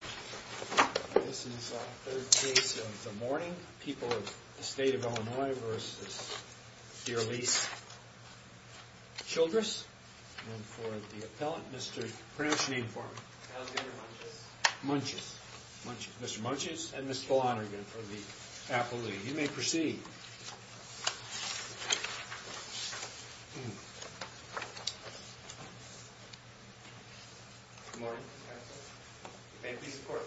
This is the third case of the morning. People of the state of Illinois v. Dearlise Childrous. And for the appellant, Mr., pronounce your name for me. Alexander Munches. Munches. Mr. Munches and Ms. Flanagan for the appellate. You may proceed. Good morning, Mr. Appellant. You may please report.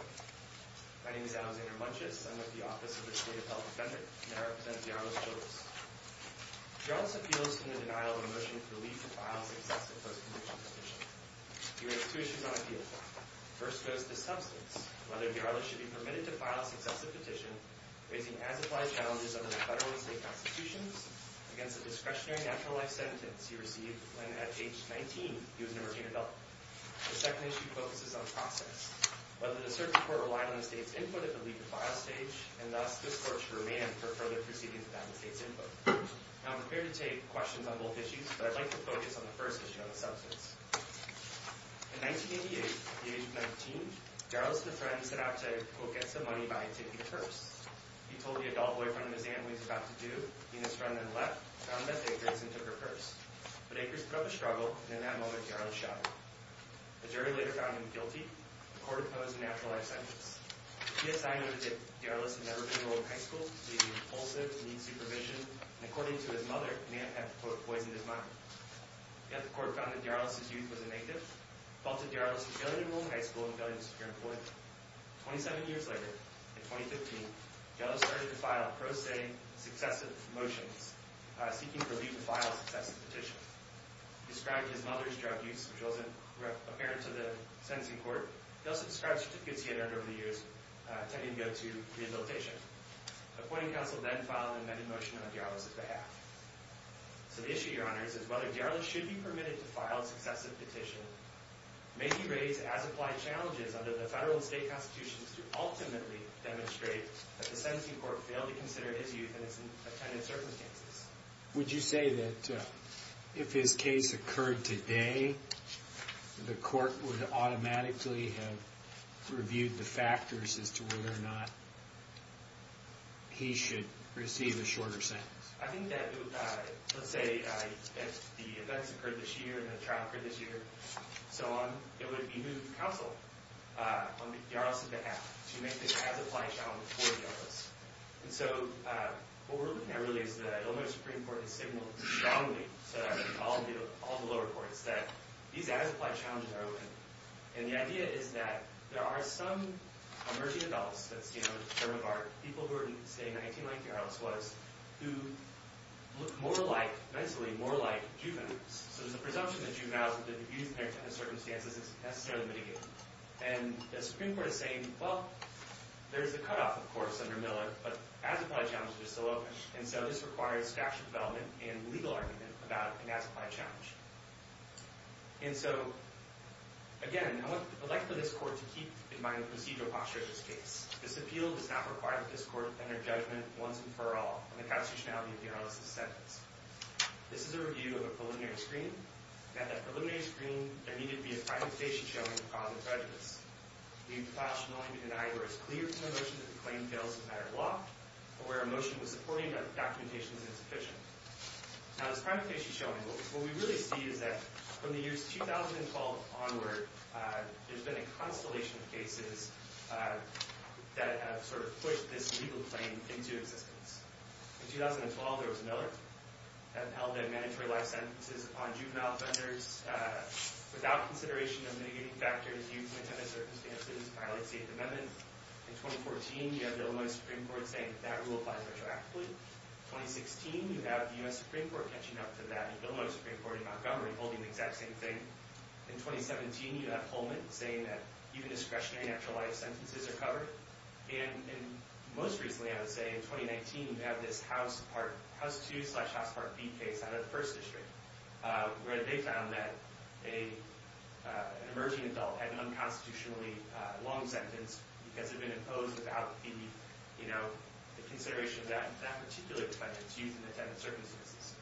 My name is Alexander Munches. I'm with the Office of the State Appellant Defender, and I represent Dearlise Childrous. Dearlise appeals to the denial of a motion to leave to file a successive post-conviction petition. He raises two issues on appeal. First goes to substance, whether Dearlise should be permitted to file a successive petition raising as-implied challenges under the federal and state constitutions against the discretionary natural life sentence he received when, at age 19, he was an emerging adult. The second issue focuses on process. Whether the circuit court relied on the state's input in the leave to file stage, and thus, this court should remain for further proceedings without the state's input. Now, I'm prepared to take questions on both issues, but I'd like to focus on the first issue on the substance. In 1988, at the age of 19, Dearlise and a friend set out to, quote, get some money by taking a purse. He told the adult boyfriend of his aunt what he was about to do. He and his friend then left, found Beth Akerson, and took her purse. But Akerson put up a struggle, and in that moment, Dearlise shot him. The jury later found him guilty. The court opposed the natural life sentence. He had signed on a ticket. Dearlise had never been enrolled in high school. He was impulsive, in need of supervision, and according to his mother, may have, quote, poisoned his mind. Yet the court found that Dearlise's youth was a negative, faulted Dearlise for failing to enroll in high school and failing to secure employment. Twenty-seven years later, in 2015, Dearlise started to file pro se successive motions, seeking for leave to file successive petitions. He described his mother's drug use, which wasn't apparent to the sentencing court. He also described certificates he had earned over the years, attempting to go to rehabilitation. The appointing counsel then filed an amended motion on Dearlise's behalf. So the issue, Your Honors, is whether Dearlise should be permitted to file a successive petition. May he raise, as applied, challenges under the federal and state constitutions to ultimately demonstrate that the sentencing court failed to consider his youth in its intended circumstances. Would you say that if his case occurred today, the court would automatically have reviewed the factors as to whether or not he should receive a shorter sentence? I think that, let's say, if the events occurred this year and the trial occurred this year and so on, it would be new counsel on Dearlise's behalf to make this as-applied challenge for Dearlise. And so what we're looking at really is that Illinois Supreme Court has signaled strongly to all the lower courts that these as-applied challenges are open. And the idea is that there are some emerging adults that stand on the term of art, people who are in the state in 1919, like Dearlise was, who look more like, mentally, more like juveniles. So there's a presumption that juveniles with the youth in their circumstances is necessarily mitigated. And the Supreme Court is saying, well, there's a cutoff, of course, under Miller, but as-applied challenges are still open. And so this requires factual development and legal argument about an as-applied challenge. And so, again, I would like for this court to keep in mind the procedural posture of this case. This appeal does not require that this court enter judgment once and for all on the constitutionality of Dearlise's sentence. This is a review of a preliminary screening. And at that preliminary screening, there needed to be a primary case showing a cause of prejudice. We have filed a testimony to deny where it's clear from the motion that the claim fails as a matter of law, or where a motion was supporting that the documentation is insufficient. Now, this primary case you're showing, what we really see is that from the years 2012 onward, there's been a constellation of cases that have sort of pushed this legal claim into existence. In 2012, there was Miller that held that mandatory life sentences on juvenile offenders without consideration of mitigating factors, youth in intended circumstances violate the Eighth Amendment. In 2014, you have the Illinois Supreme Court saying that rule applies retroactively. In 2016, you have the U.S. Supreme Court catching up to that Illinois Supreme Court in Montgomery holding the exact same thing. In 2017, you have Holman saying that even discretionary natural life sentences are covered. And most recently, I would say, in 2019, you have this House Part 2 slash House Part B case out of the First District, where they found that an emerging adult had an unconstitutionally long sentence because it had been imposed without the, you know, the consideration of that particular defendant's youth in intended circumstances.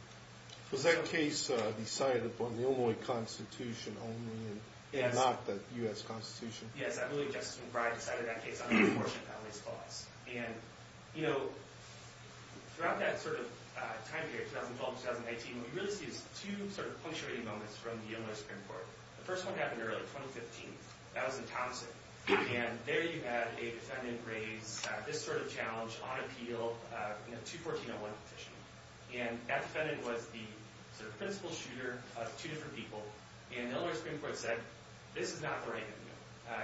Was that case decided upon the Illinois Constitution only, and not the U.S. Constitution? Yes, I believe Justice McBride decided that case on the abortion families clause. And, you know, throughout that sort of time period, 2012 to 2019, what we really see is two sort of punctuating moments from the Illinois Supreme Court. The first one happened early, 2015. That was in Thompson. And there you had a defendant raise this sort of challenge on appeal in a 214-01 petition. And that defendant was the sort of principal shooter of two different people. And the Illinois Supreme Court said, this is not the right thing to do.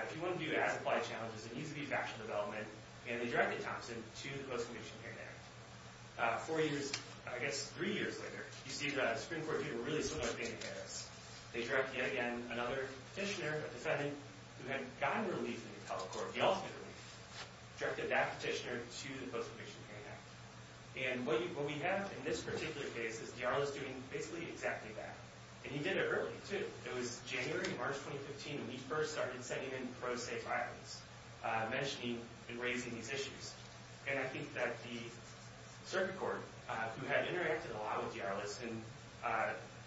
If you want to do as-applied challenges, it needs to be factual development. And they directed Thompson to the Post-Conviction Parent Act. Four years, I guess three years later, you see the Supreme Court doing a really similar thing against this. They directed, yet again, another petitioner, a defendant, who had gotten relief in the public court, the ultimate relief, directed that petitioner to the Post-Conviction Parent Act. And what we have in this particular case is Diarlis doing basically exactly that. And he did it early, too. It was January, March 2015 when he first started sending in pro-safe violence, mentioning and raising these issues. And I think that the circuit court, who had interacted a lot with Diarlis in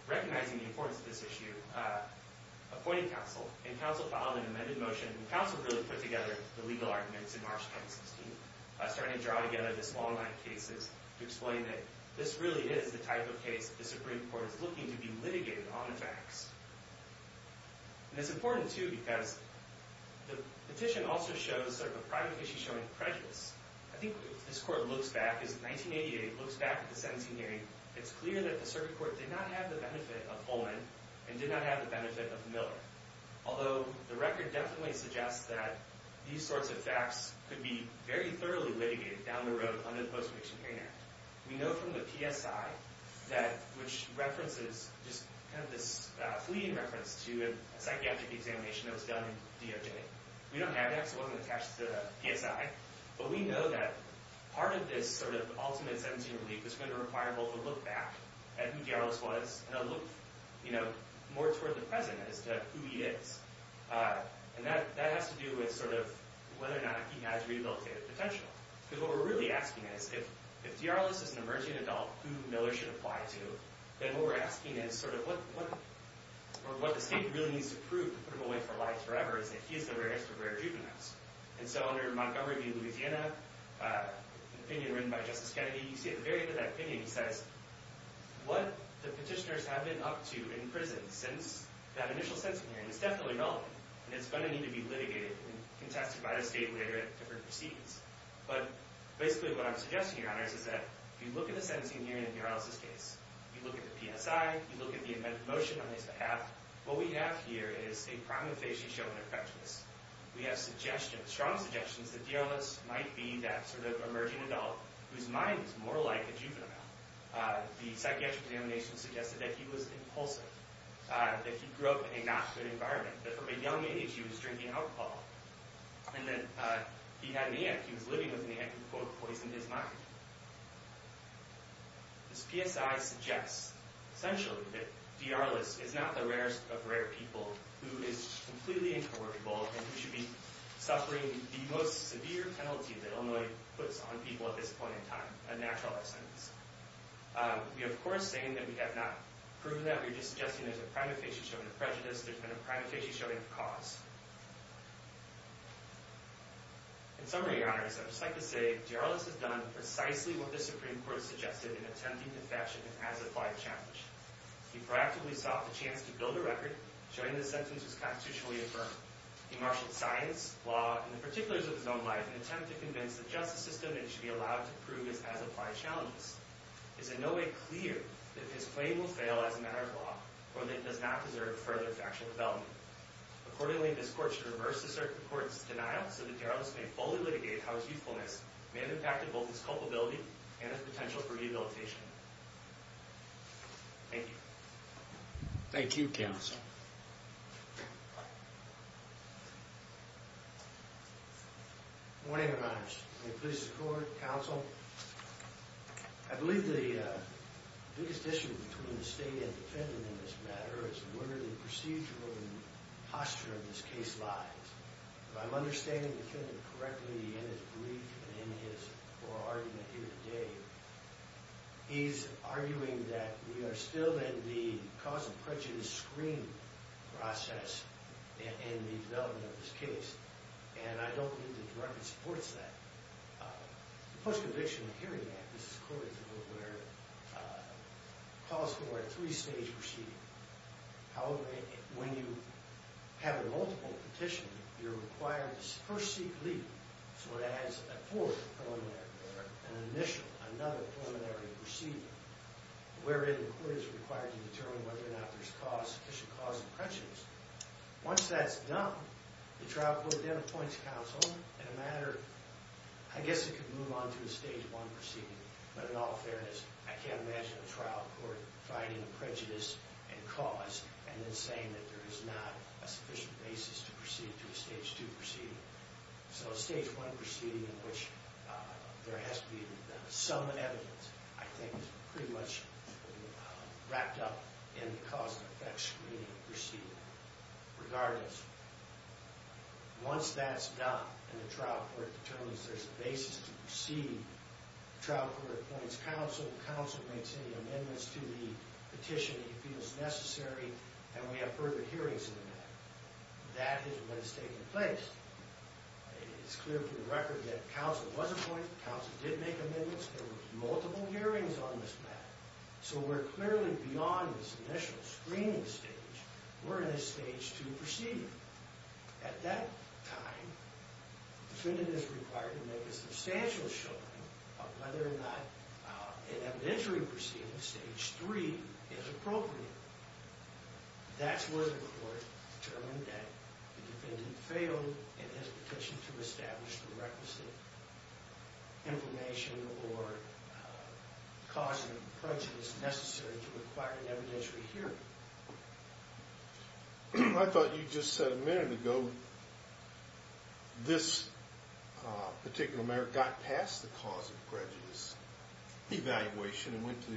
recognizing the importance of this issue, appointed counsel. And counsel filed an amended motion. And counsel really put together the legal arguments in March 2016, starting to draw together this long line of cases to explain that this really is the type of case that the Supreme Court is looking to be litigated on the facts. And it's important, too, because the petition also shows sort of a private issue showing prejudice. I think if this court looks back, if 1988 looks back at the sentencing hearing, it's clear that the circuit court did not have the benefit of Pullman and did not have the benefit of Miller. Although the record definitely suggests that these sorts of facts could be very thoroughly litigated down the road under the Post-Conviction Parent Act. We know from the PSI, which references just kind of this fleeting reference to a psychiatric examination that was done in DOJ, we don't have that because it wasn't attached to the PSI. But we know that part of this sort of ultimate sentencing relief is going to require both a look back at who D'Arlis was and a look, you know, more toward the present as to who he is. And that has to do with sort of whether or not he has rehabilitative potential. Because what we're really asking is if D'Arlis is an emerging adult, who Miller should apply to, then what we're asking is sort of what the state really needs to prove to put him away for life forever is that he is the rarest of rare juveniles. And so under Montgomery v. Louisiana, an opinion written by Justice Kennedy, you see at the very end of that opinion he says, what the petitioners have been up to in prison since that initial sentencing hearing is definitely relevant. And it's going to need to be litigated and contested by the state later at different proceedings. But basically what I'm suggesting, Your Honors, is that if you look at the sentencing hearing in D'Arlis' case, you look at the PSI, you look at the amended motion on his behalf, what we have here is a prominent face you show in their prejudice. We have strong suggestions that D'Arlis might be that sort of emerging adult whose mind is more like a juvenile. The psychiatric examination suggested that he was impulsive, that he grew up in a not good environment, that from a young age he was drinking alcohol, and that he had an aunt who was living with an aunt who, quote, poisoned his mind. This PSI suggests, essentially, that D'Arlis is not the rarest of rare people who is completely incorrigible and who should be suffering the most severe penalty that Illinois puts on people at this point in time, a naturalized sentence. We are, of course, saying that we have not proven that. We're just suggesting there's a prominent face you show in their prejudice. There's been a prominent face you show in their cause. In summary, Your Honors, I would just like to say D'Arlis has done precisely what the Supreme Court suggested in attempting to fashion an as-applied challenge. He proactively sought the chance to build a record showing the sentence was constitutionally affirmed. He marshaled science, law, and the particulars of his own life in an attempt to convince the justice system that he should be allowed to prove his as-applied challenges. It is in no way clear that his claim will fail as a matter of law or that it does not deserve further factual development. Accordingly, this Court should reverse the Supreme Court's denial so that D'Arlis may fully litigate how his youthfulness may have impacted both his culpability and his potential for rehabilitation. Thank you. Thank you, Counsel. Good morning, Your Honors. May it please the Court, Counsel. I believe the biggest issue between the State and defendant in this matter is where the procedural posture of this case lies. If I'm understanding the defendant correctly in his brief and in his oral argument here today, he's arguing that we are still in the cause of prejudice screen process in the development of this case. And I don't believe the directive supports that. The Post-Conviction Hearing Act, this is a code that's a little weirder, calls for a three-stage proceeding. However, when you have a multiple petition, you're required to first seek leave. So it adds a fourth preliminary order, an initial, another preliminary proceeding, wherein the Court is required to determine whether or not there's sufficient cause of prejudice. Once that's done, the trial court then appoints counsel in a matter... I guess it could move on to a Stage 1 proceeding, but in all fairness, I can't imagine a trial court finding a prejudice and cause and then saying that there is not a sufficient basis to proceed to a Stage 2 proceeding. So a Stage 1 proceeding in which there has to be some evidence, I think is pretty much wrapped up in the cause-and-effect screening proceeding, regardless. Once that's done and the trial court determines there's a basis to proceed, the trial court appoints counsel, the counsel makes any amendments to the petition he feels necessary, and we have further hearings in the matter. That is what has taken place. It's clear from the record that counsel was appointed, counsel did make amendments, there were multiple hearings on this matter. So we're clearly beyond this initial screening stage. We're in a Stage 2 proceeding. At that time, the defendant is required to make a substantial showing of whether or not an evidentiary proceeding, Stage 3, is appropriate. That's where the court determined that the defendant failed in his petition to establish the requisite information or cause of prejudice necessary to require an evidentiary hearing. I thought you just said a minute ago this particular matter got past the cause of prejudice evaluation and went to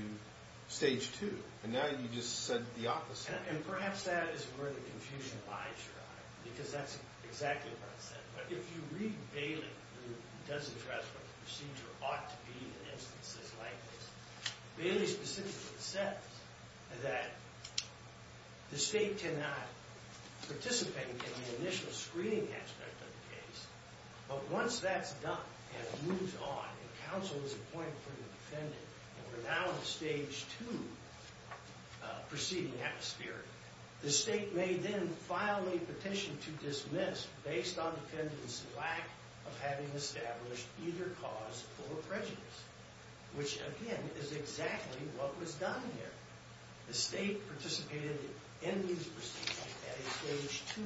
Stage 2. And now you just said the opposite. And perhaps that is where the confusion lies, your Honor, because that's exactly what I said. But if you read Bailey, who does address what the procedure ought to be in instances like this, Bailey specifically says that the state cannot participate in the initial screening aspect of the case, but once that's done and it moves on, and counsel is appointed for the defendant, and we're now in a Stage 2 proceeding atmosphere, the state may then file a petition to dismiss, based on the defendant's lack of having established either cause or prejudice, which, again, is exactly what was done here. The state participated in these proceedings at a Stage 2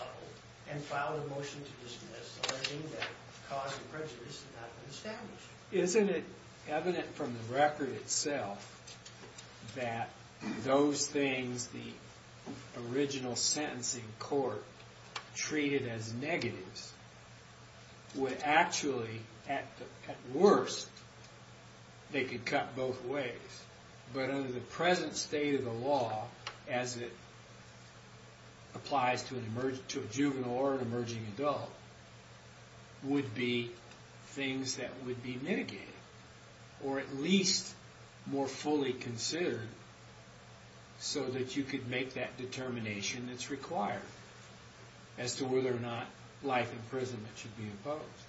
level and filed a motion to dismiss, alleging that cause of prejudice had not been established. Isn't it evident from the record itself that those things the original sentencing court treated as negatives would actually, at worst, they could cut both ways, but under the present state of the law, as it applies to a juvenile or an emerging adult, would be things that would be mitigated, or at least more fully considered, so that you could make that determination that's required as to whether or not life imprisonment should be imposed.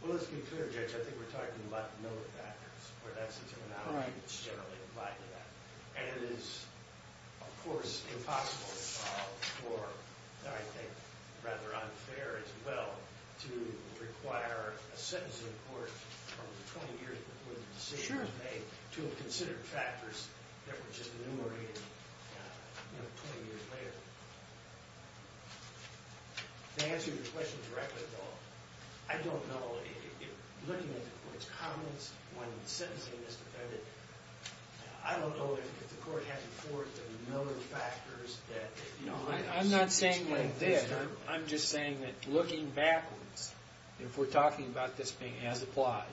Well, let's be clear, Judge, I think we're talking about no factors, where that's a terminology that's generally applied to that. And it is, of course, impossible to solve for, and I think rather unfair as well, to require a sentencing court from the 20 years before the decision was made to have considered factors that were just enumerated 20 years later. To answer your question directly, though, I don't know, looking at the court's comments when sentencing this defendant, I don't know if the court has before it the known factors I'm not saying that it did. I'm just saying that looking backwards, if we're talking about this being as applied,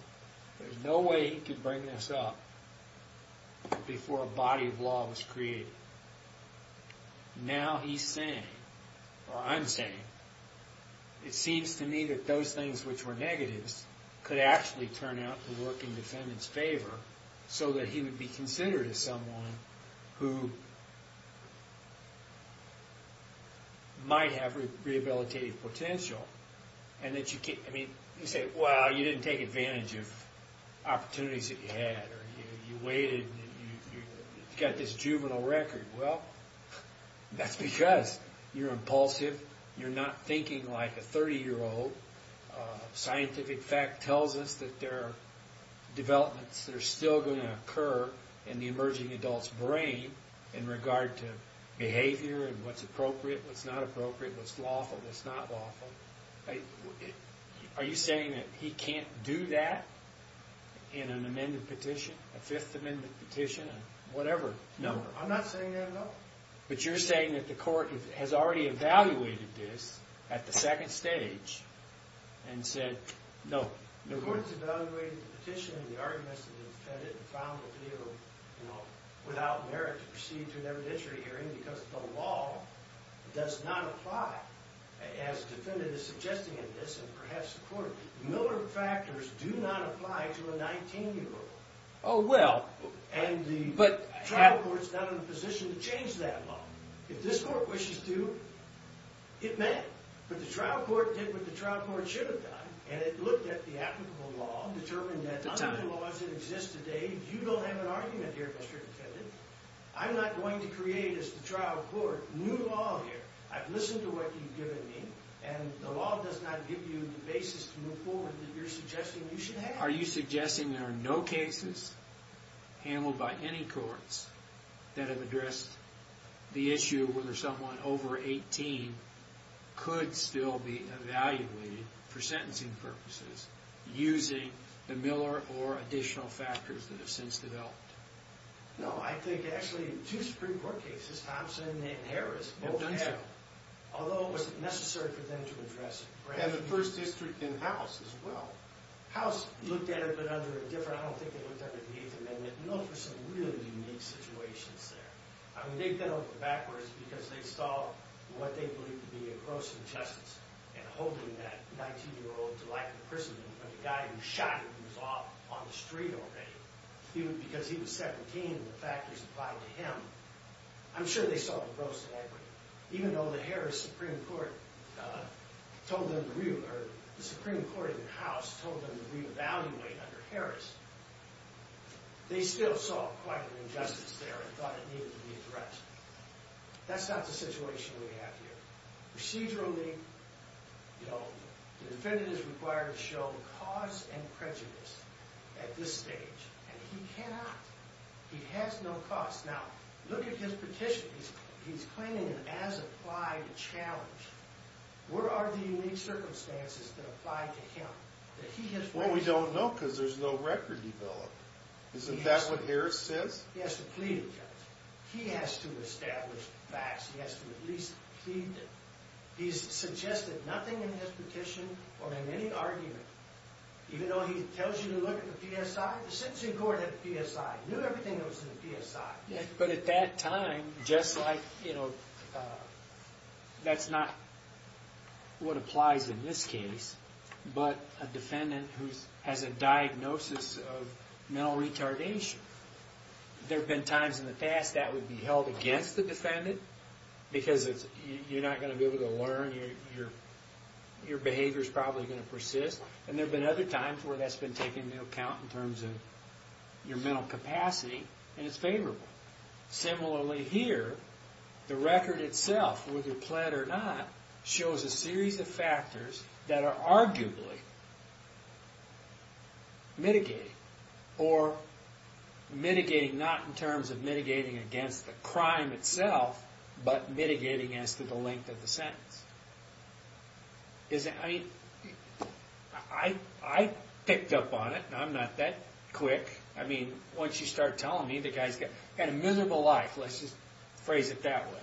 there's no way he could bring this up before a body of law was created. Now he's saying, or I'm saying, it seems to me that those things which were negatives could actually turn out to work in the defendant's favor so that he would be considered as someone who might have rehabilitative potential. And that you can't, I mean, you say, well, you didn't take advantage of opportunities that you had, or you waited, you've got this juvenile record. Well, that's because you're impulsive, you're not thinking like a 30-year-old. Scientific fact tells us that there are developments that are still going to occur in the emerging adult's brain in regard to behavior and what's appropriate, what's not appropriate, what's lawful, what's not lawful. Are you saying that he can't do that in an amended petition, a Fifth Amendment petition, whatever? No, I'm not saying that at all. But you're saying that the court has already evaluated this at the second stage and said, no. The court has evaluated the petition and the arguments of the defendant and found that they were without merit to proceed to an evidentiary hearing because the law does not apply, as the defendant is suggesting in this and perhaps the court. Miller factors do not apply to a 19-year-old. Oh, well. And the trial court's not in a position to change that law. If this court wishes to, it may. But the trial court did what the trial court should have done and it looked at the applicable law, determined that under the laws that exist today, you don't have an argument here, Mr. Defendant. I'm not going to create, as the trial court, new law here. I've listened to what you've given me, and the law does not give you the basis to move forward that you're suggesting you should have. Are you suggesting there are no cases handled by any courts that have addressed the issue where someone over 18 could still be evaluated for sentencing purposes using the Miller or additional factors that have since developed? No, I think actually two Supreme Court cases, Thompson and Harris, have done so. Although it wasn't necessary for them to address it. And the first district in House as well. House looked at it, but under a different... I don't think they looked at it under the Eighth Amendment. Those were some really unique situations there. I mean, they've been open backwards because they saw what they believed to be a gross injustice in holding that 19-year-old to life in prison when the guy who shot him was off on the street already because he was 17 and the factors applied to him. I'm sure they saw a gross inequity. Even though the Harris Supreme Court told them to reevaluate... or the Supreme Court in the House told them to reevaluate under Harris, they still saw quite an injustice there and thought it needed to be addressed. That's not the situation we have here. Procedurally, the defendant is required to show cause and prejudice at this stage, and he cannot. He has no cause. Now, look at his petition. He's claiming an as-applied challenge. Where are the unique circumstances that apply to him? Well, we don't know because there's no record developed. Isn't that what Harris says? He has to plead against it. He has to establish the facts. He has to at least plead. He's suggested nothing in his petition or in any argument. Even though he tells you to look at the PSI, the sentencing court had the PSI. It knew everything that was in the PSI. But at that time, just like, you know, that's not what applies in this case, but a defendant who has a diagnosis of mental retardation, there have been times in the past that would be held against the defendant because you're not going to be able to learn. Your behavior's probably going to persist. And there have been other times where that's been taken into account in terms of your mental capacity, and it's favorable. Similarly here, the record itself, whether pled or not, shows a series of factors that are arguably mitigating or mitigating not in terms of mitigating against the crime itself, but mitigating as to the length of the sentence. I mean, I picked up on it, and I'm not that quick. I mean, once you start telling me, the guy's got a miserable life. Let's just phrase it that way.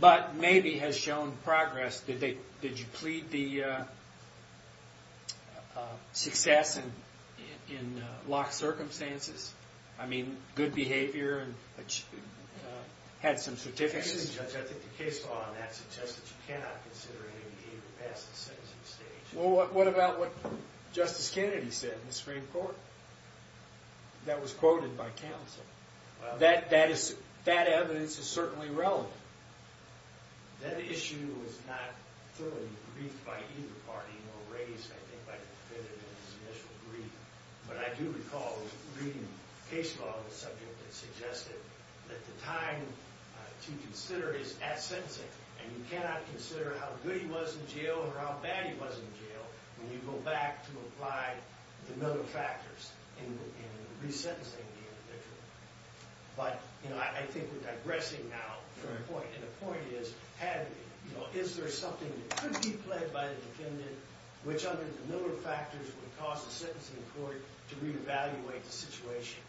But maybe has shown progress. Did you plead the success in locked circumstances? I mean, good behavior, had some certificates? I think the case law on that suggests that you cannot consider any behavior past the sentencing stage. Well, what about what Justice Kennedy said in the Supreme Court that was quoted by counsel? That evidence is certainly relevant. That issue was not thoroughly briefed by either party, nor raised, I think, by Kennedy in his initial brief. But I do recall reading case law on the subject that suggested that the time to consider is at sentencing, and you cannot consider how good he was in jail or how bad he was in jail when you go back to apply the other factors in resentencing the individual. But, you know, I think we're digressing now from the point. And the point is, is there something that could be pled by the defendant which under the Miller factors would cause the sentencing court to re-evaluate the situation?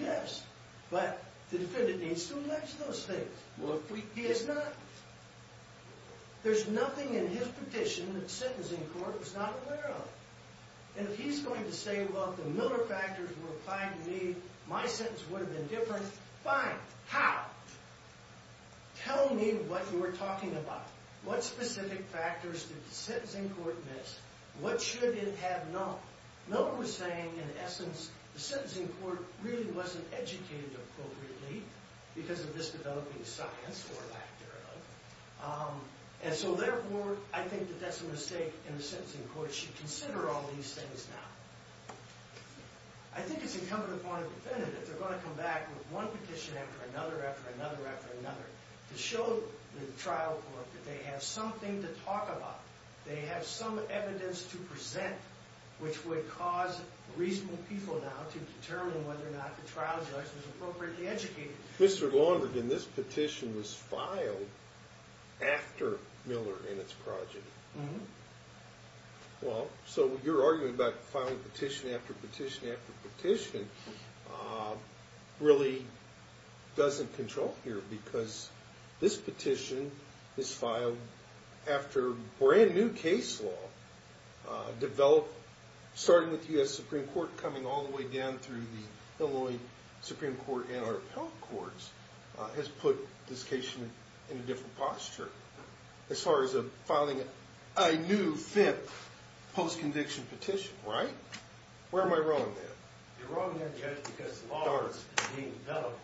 Yes, but the defendant needs to elect those things. He has not. There's nothing in his petition that the sentencing court was not aware of. And if he's going to say, well, if the Miller factors were applied to me, my sentence would have been different, fine. How? Tell me what you were talking about. What specific factors did the sentencing court miss? What should it have known? Miller was saying, in essence, the sentencing court really wasn't educated appropriately because of this developing science, or lack thereof. And so, therefore, I think that that's a mistake, and the sentencing court should consider all these things now. I think it's incumbent upon the defendant, if they're going to come back with one petition after another after another after another, to show the trial court that they have something to talk about, they have some evidence to present, which would cause reasonable people now to determine whether or not the trial judge was appropriately educated. Mr. Longberg, and this petition was filed after Miller and its project. Mm-hmm. Well, so your argument about filing petition after petition after petition really doesn't control here, because this petition is filed after brand-new case law developed, starting with the U.S. Supreme Court, coming all the way down through the Illinois Supreme Court and our appellate courts, has put this case in a different posture. As far as filing a new, fifth, post-conviction petition, right? Where am I wrong then? You're wrong then, Judge, because the law is being developed.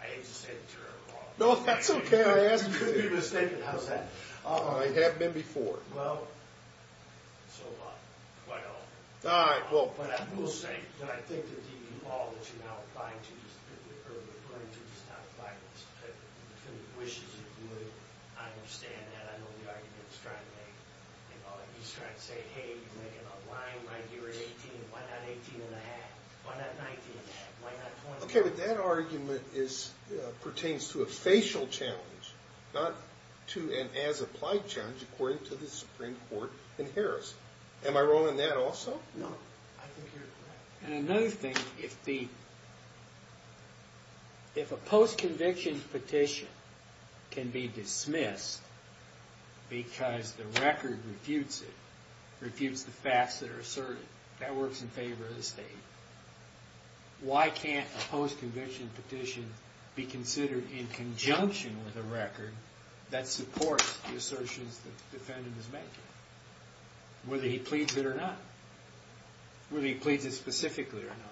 I hate to say it to you, Mr. Longberg. No, that's okay. I asked you to do it. You're mistaken. How's that? I have been before. Well, so have I. All right. But I will say that I think that the law that you're now referring to wishes it would. I understand that. I know the argument it's trying to make. It's trying to say, hey, you're making a line right here at 18. Why not 18 and a half? Why not 19 and a half? Why not 20 and a half? Okay, but that argument pertains to a facial challenge, not to an as-applied challenge, according to the Supreme Court in Harris. Am I wrong on that also? No, I think you're correct. And another thing, if a post-conviction petition can be dismissed because the record refutes it, refutes the facts that are asserted, that works in favor of the state, why can't a post-conviction petition be considered in conjunction with a record that supports the assertions the defendant is making, whether he pleads it or not, whether he pleads it specifically or not.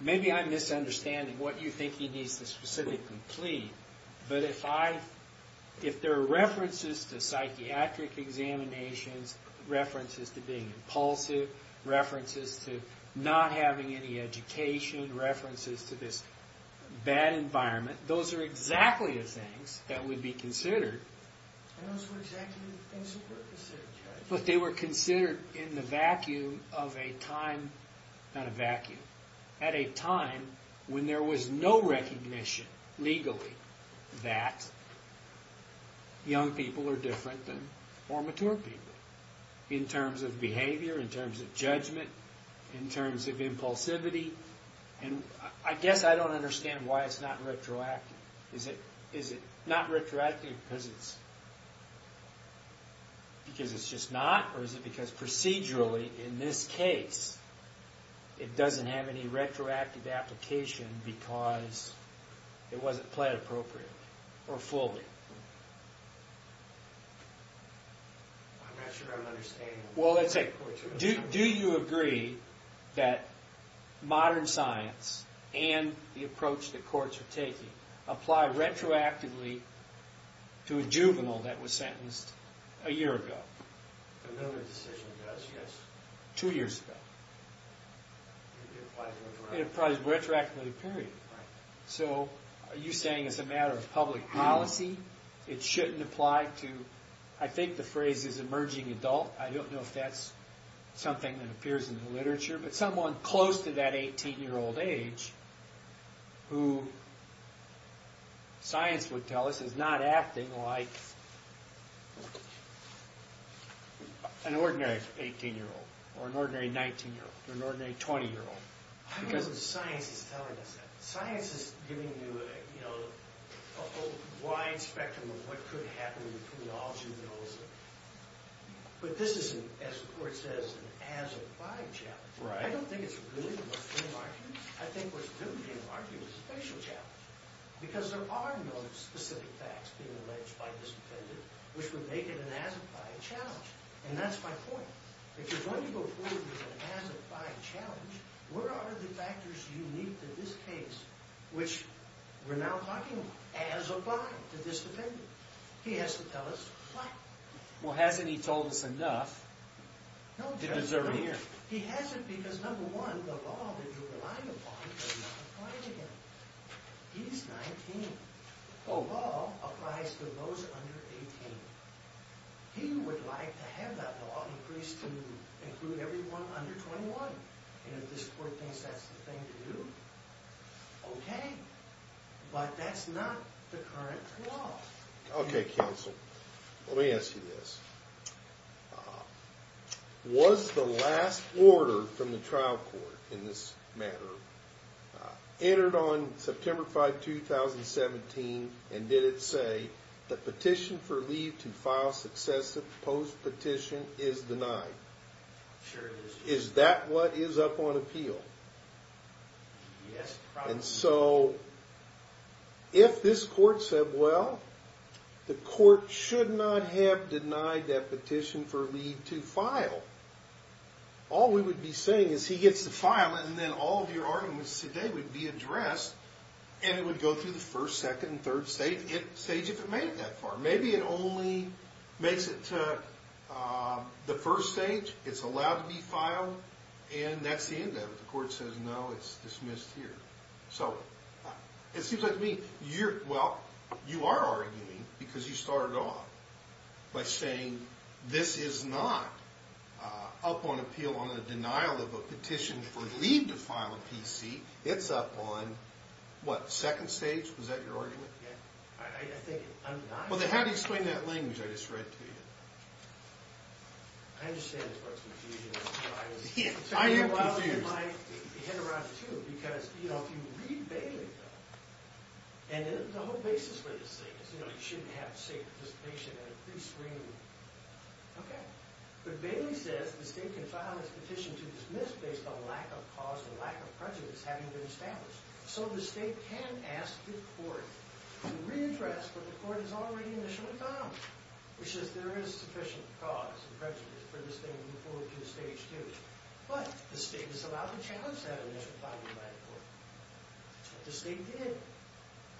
Maybe I'm misunderstanding what you think he needs to specifically plead, but if there are references to psychiatric examinations, references to being impulsive, references to not having any education, references to this bad environment, those are exactly the things that would be considered. And those were exactly the things that were considered, Judge. But they were considered in the vacuum of a time, not a vacuum, at a time when there was no recognition legally that young people are different than more mature people in terms of behavior, in terms of judgment, in terms of impulsivity. And I guess I don't understand why it's not retroactive. Is it not retroactive because it's just not, or is it because procedurally, in this case, it doesn't have any retroactive application because it wasn't pled appropriately or fully? I'm not sure I'm understanding. Well, let's say, do you agree that modern science and the approach that courts are taking apply retroactively to a juvenile that was sentenced a year ago? Another decision does, yes. Two years ago. It applies retroactively. It applies retroactively, period. Right. So are you saying it's a matter of public policy? It shouldn't apply to, I think the phrase is emerging adult. I don't know if that's something that appears in the literature, but someone close to that 18-year-old age, who science would tell us is not acting like an ordinary 18-year-old or an ordinary 19-year-old or an ordinary 20-year-old. I don't know if science is telling us that. Science is giving you a wide spectrum of what could happen between all juveniles. But this is, as the court says, an as-applied challenge. I don't think it's really what's being argued. I think what's really being argued is a special challenge. Because there are no specific facts being alleged by this defendant which would make it an as-applied challenge. And that's my point. If you're going to go forward with an as-applied challenge, where are the factors unique to this case, which we're now talking about, as applied to this defendant? He has to tell us why. Well, hasn't he told us enough to deserve it here? He hasn't, because, number one, the law that you're relying upon does not apply to him. He's 19. The law applies to those under 18. He would like to have that law increased to include everyone under 21. And if this court thinks that's the thing to do, okay. But that's not the current law. Okay, counsel. Let me ask you this. Was the last order from the trial court in this matter entered on September 5, 2017, and did it say that petition for leave to file successive post-petition is denied? Sure it is. Is that what is up on appeal? Yes, probably. And so if this court said, well, the court should not have denied that petition for leave to file, all we would be saying is he gets to file, and then all of your arguments today would be addressed, and it would go through the first, second, and third stage, if it made it that far. Maybe it only makes it to the first stage, it's allowed to be filed, and that's the end of it. If the court says no, it's dismissed here. So it seems like to me you're, well, you are arguing, because you started off by saying this is not up on appeal on the denial of a petition for leave to file a PC. It's up on, what, second stage? Was that your argument? I think I'm not. Well, then how do you explain that language I just read to you? I understand this part's confusing. I am confused. Because, you know, if you read Bailey, though, and the whole basis for this thing is, you know, you shouldn't have, say, participation in a prescreening. Okay. But Bailey says the state can file this petition to dismiss based on lack of cause and lack of prejudice having been established. So the state can ask the court to readdress what the court has already initially found, which is there is sufficient cause and prejudice for the state to move forward to stage 2. But the state is allowed to challenge that initial finding by the court. But the state did.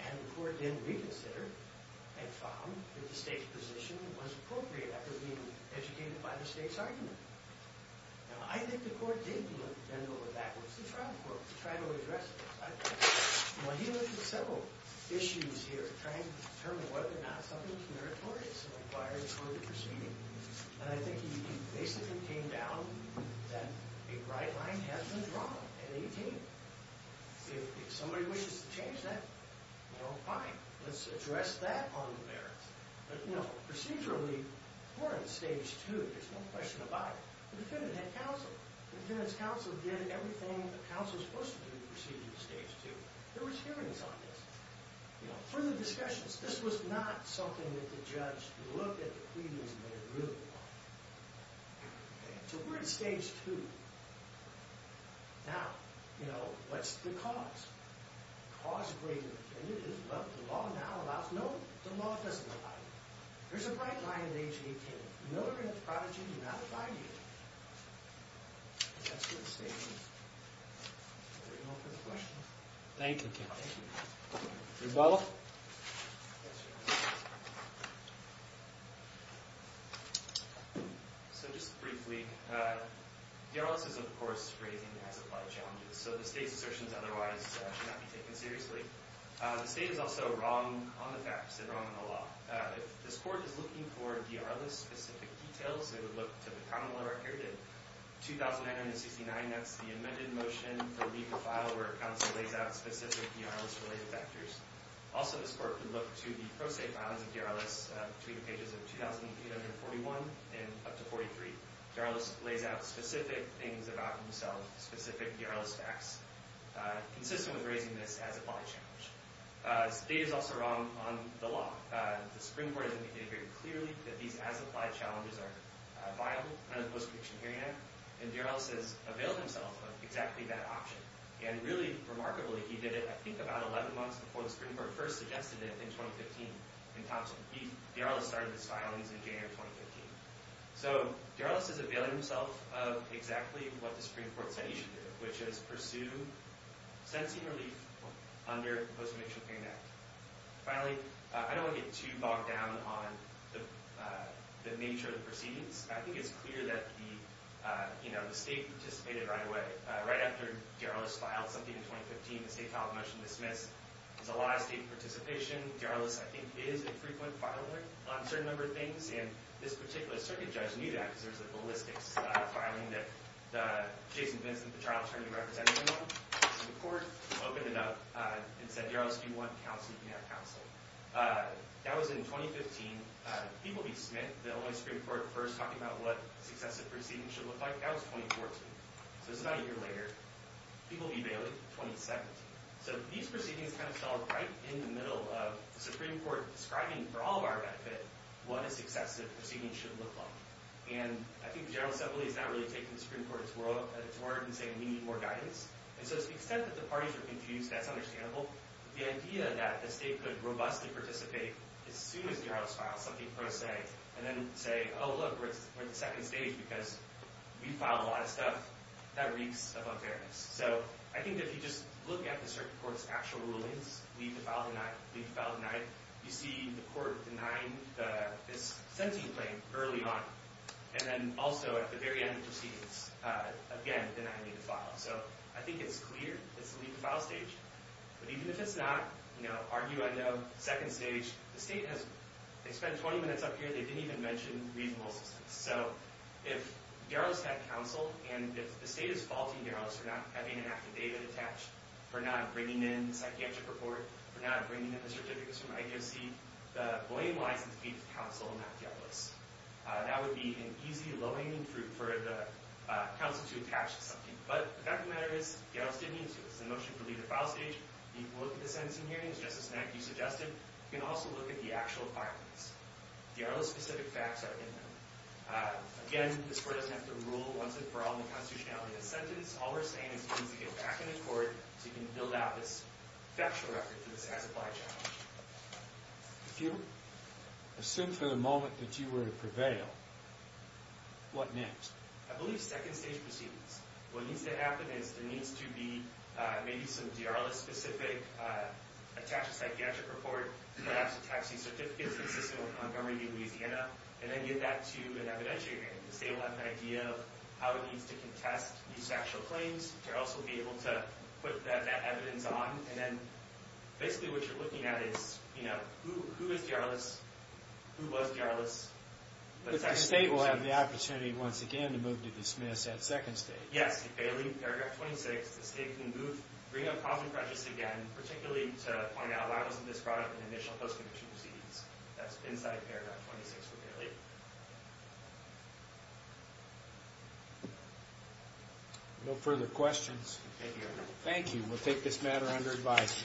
And the court then reconsidered and found that the state's position was appropriate after being educated by the state's argument. Now, I think the court did bend over backwards to trial court to try to address this. Well, he went through several issues here, trying to determine whether or not something was meritorious in requiring a court to proceed. And I think he basically came down that a bright line has been drawn at 18. If somebody wishes to change that, well, fine. Let's address that on the merits. But, you know, procedurally, we're on stage 2. There's no question about it. The defendant had counsel. The defendant's counsel did everything the counsel was supposed to do to proceed to stage 2. There was hearings on this. You know, further discussions. This was not something that the judge looked at the pleadings and made a ruling on. So we're at stage 2. Now, you know, what's the cause? The cause of grave indefendence is what the law now allows. No, the law doesn't allow it. There's a bright line at 18. Miller and Prodigy do not abide here. That's your statement. Any more questions? Thank you, Ken. Thank you. Rebella? Yes, Your Honor. So just briefly, DRLIS is, of course, phrasing as applied challenges. So the state's assertions otherwise should not be taken seriously. The state is also wrong on the facts and wrong on the law. If this court is looking for DRLIS-specific details, it would look to the common law record in 2969. That's the amended motion to leave the file where counsel lays out specific DRLIS-related factors. Also, this court could look to the pro se files of DRLIS between the pages of 2,841 and up to 43. DRLIS lays out specific things about himself, specific DRLIS facts, consistent with raising this as an applied challenge. The state is also wrong on the law. The Supreme Court has indicated very clearly that these as applied challenges are viable under the Post-Perdiction Hearing Act. And DRLIS has availed himself of exactly that option. And really remarkably, he did it, I think, about 11 months before the Supreme Court first suggested it in 2015 in Thompson. DRLIS started this file in January 2015. So DRLIS has availed himself of exactly what the Supreme Court said he should do, which is pursue sentencing relief under the Post-Perdiction Hearing Act. Finally, I don't want to get too bogged down on the nature of the proceedings. I think it's clear that the state participated right away. Right after DRLIS filed something in 2015, the state filed a motion to dismiss. There's a lot of state participation. DRLIS, I think, is a frequent filer on a certain number of things. And this particular circuit judge knew that because there was a ballistics filing that Jason Vincent, the trial attorney representing him, went to the court, opened it up, and said, DRLIS, if you want counsel, you can have counsel. That was in 2015. People v. Smith, the only Supreme Court first talking about what successive proceedings should look like, that was 2014. So it's about a year later. People v. Bailey, 2017. So these proceedings kind of fell right in the middle of the Supreme Court describing for all of our benefit what a successive proceeding should look like. And I think the General Assembly is not really taking the Supreme Court at its word and saying we need more guidance. And so to the extent that the parties are confused, that's understandable. The idea that the state could robustly participate as soon as DRLIS filed something pro se, and then say, oh, look, we're at the second stage because we filed a lot of stuff, that reeks of unfairness. So I think if you just look at the Supreme Court's actual rulings, leave the file denied, leave the file denied, you see the court denying this sentencing claim early on. And then also at the very end of the proceedings, again, denying the file. So I think it's clear it's the leave the file stage. But even if it's not, you know, argue I know, second stage, the state has, they spent 20 minutes up here, they didn't even mention reasonable assistance. So if DRLIS had counsel, and if the state is faulting DRLIS for not having an active data attached, for not bringing in the psychiatric report, for not bringing in the certificates from ICFC, the blame lies with counsel, not DRLIS. That would be an easy, low-hanging fruit for the counsel to attach to something. But the fact of the matter is DRLIS didn't need to. It was a motion to leave the file stage. You can look at the sentencing hearings just as you suggested. You can also look at the actual filings. DRLIS-specific facts are in them. Again, this court doesn't have to rule once and for all in the constitutionality of the sentence. All we're saying is you need to get back in the court so you can build out this factual record for this as-applied challenge. If you assume for the moment that you were to prevail, what next? I believe second stage proceedings. What needs to happen is there needs to be maybe some DRLIS-specific attached psychiatric report, perhaps attaching certificates consistent with Montgomery v. Louisiana, and then get that to an evidentiary hearing. The state will have an idea of how it needs to contest these factual claims. They'll also be able to put that evidence on. And then basically what you're looking at is, you know, who is DRLIS, who was DRLIS? But the state will have the opportunity once again to move to dismiss at second stage. Yes, if they leave paragraph 26, the state can move, bring up cause and prejudice again, particularly to find out why wasn't this brought up in the initial post-conviction proceedings. That's inside paragraph 26. No further questions? Thank you. Thank you. We'll take this matter under advice.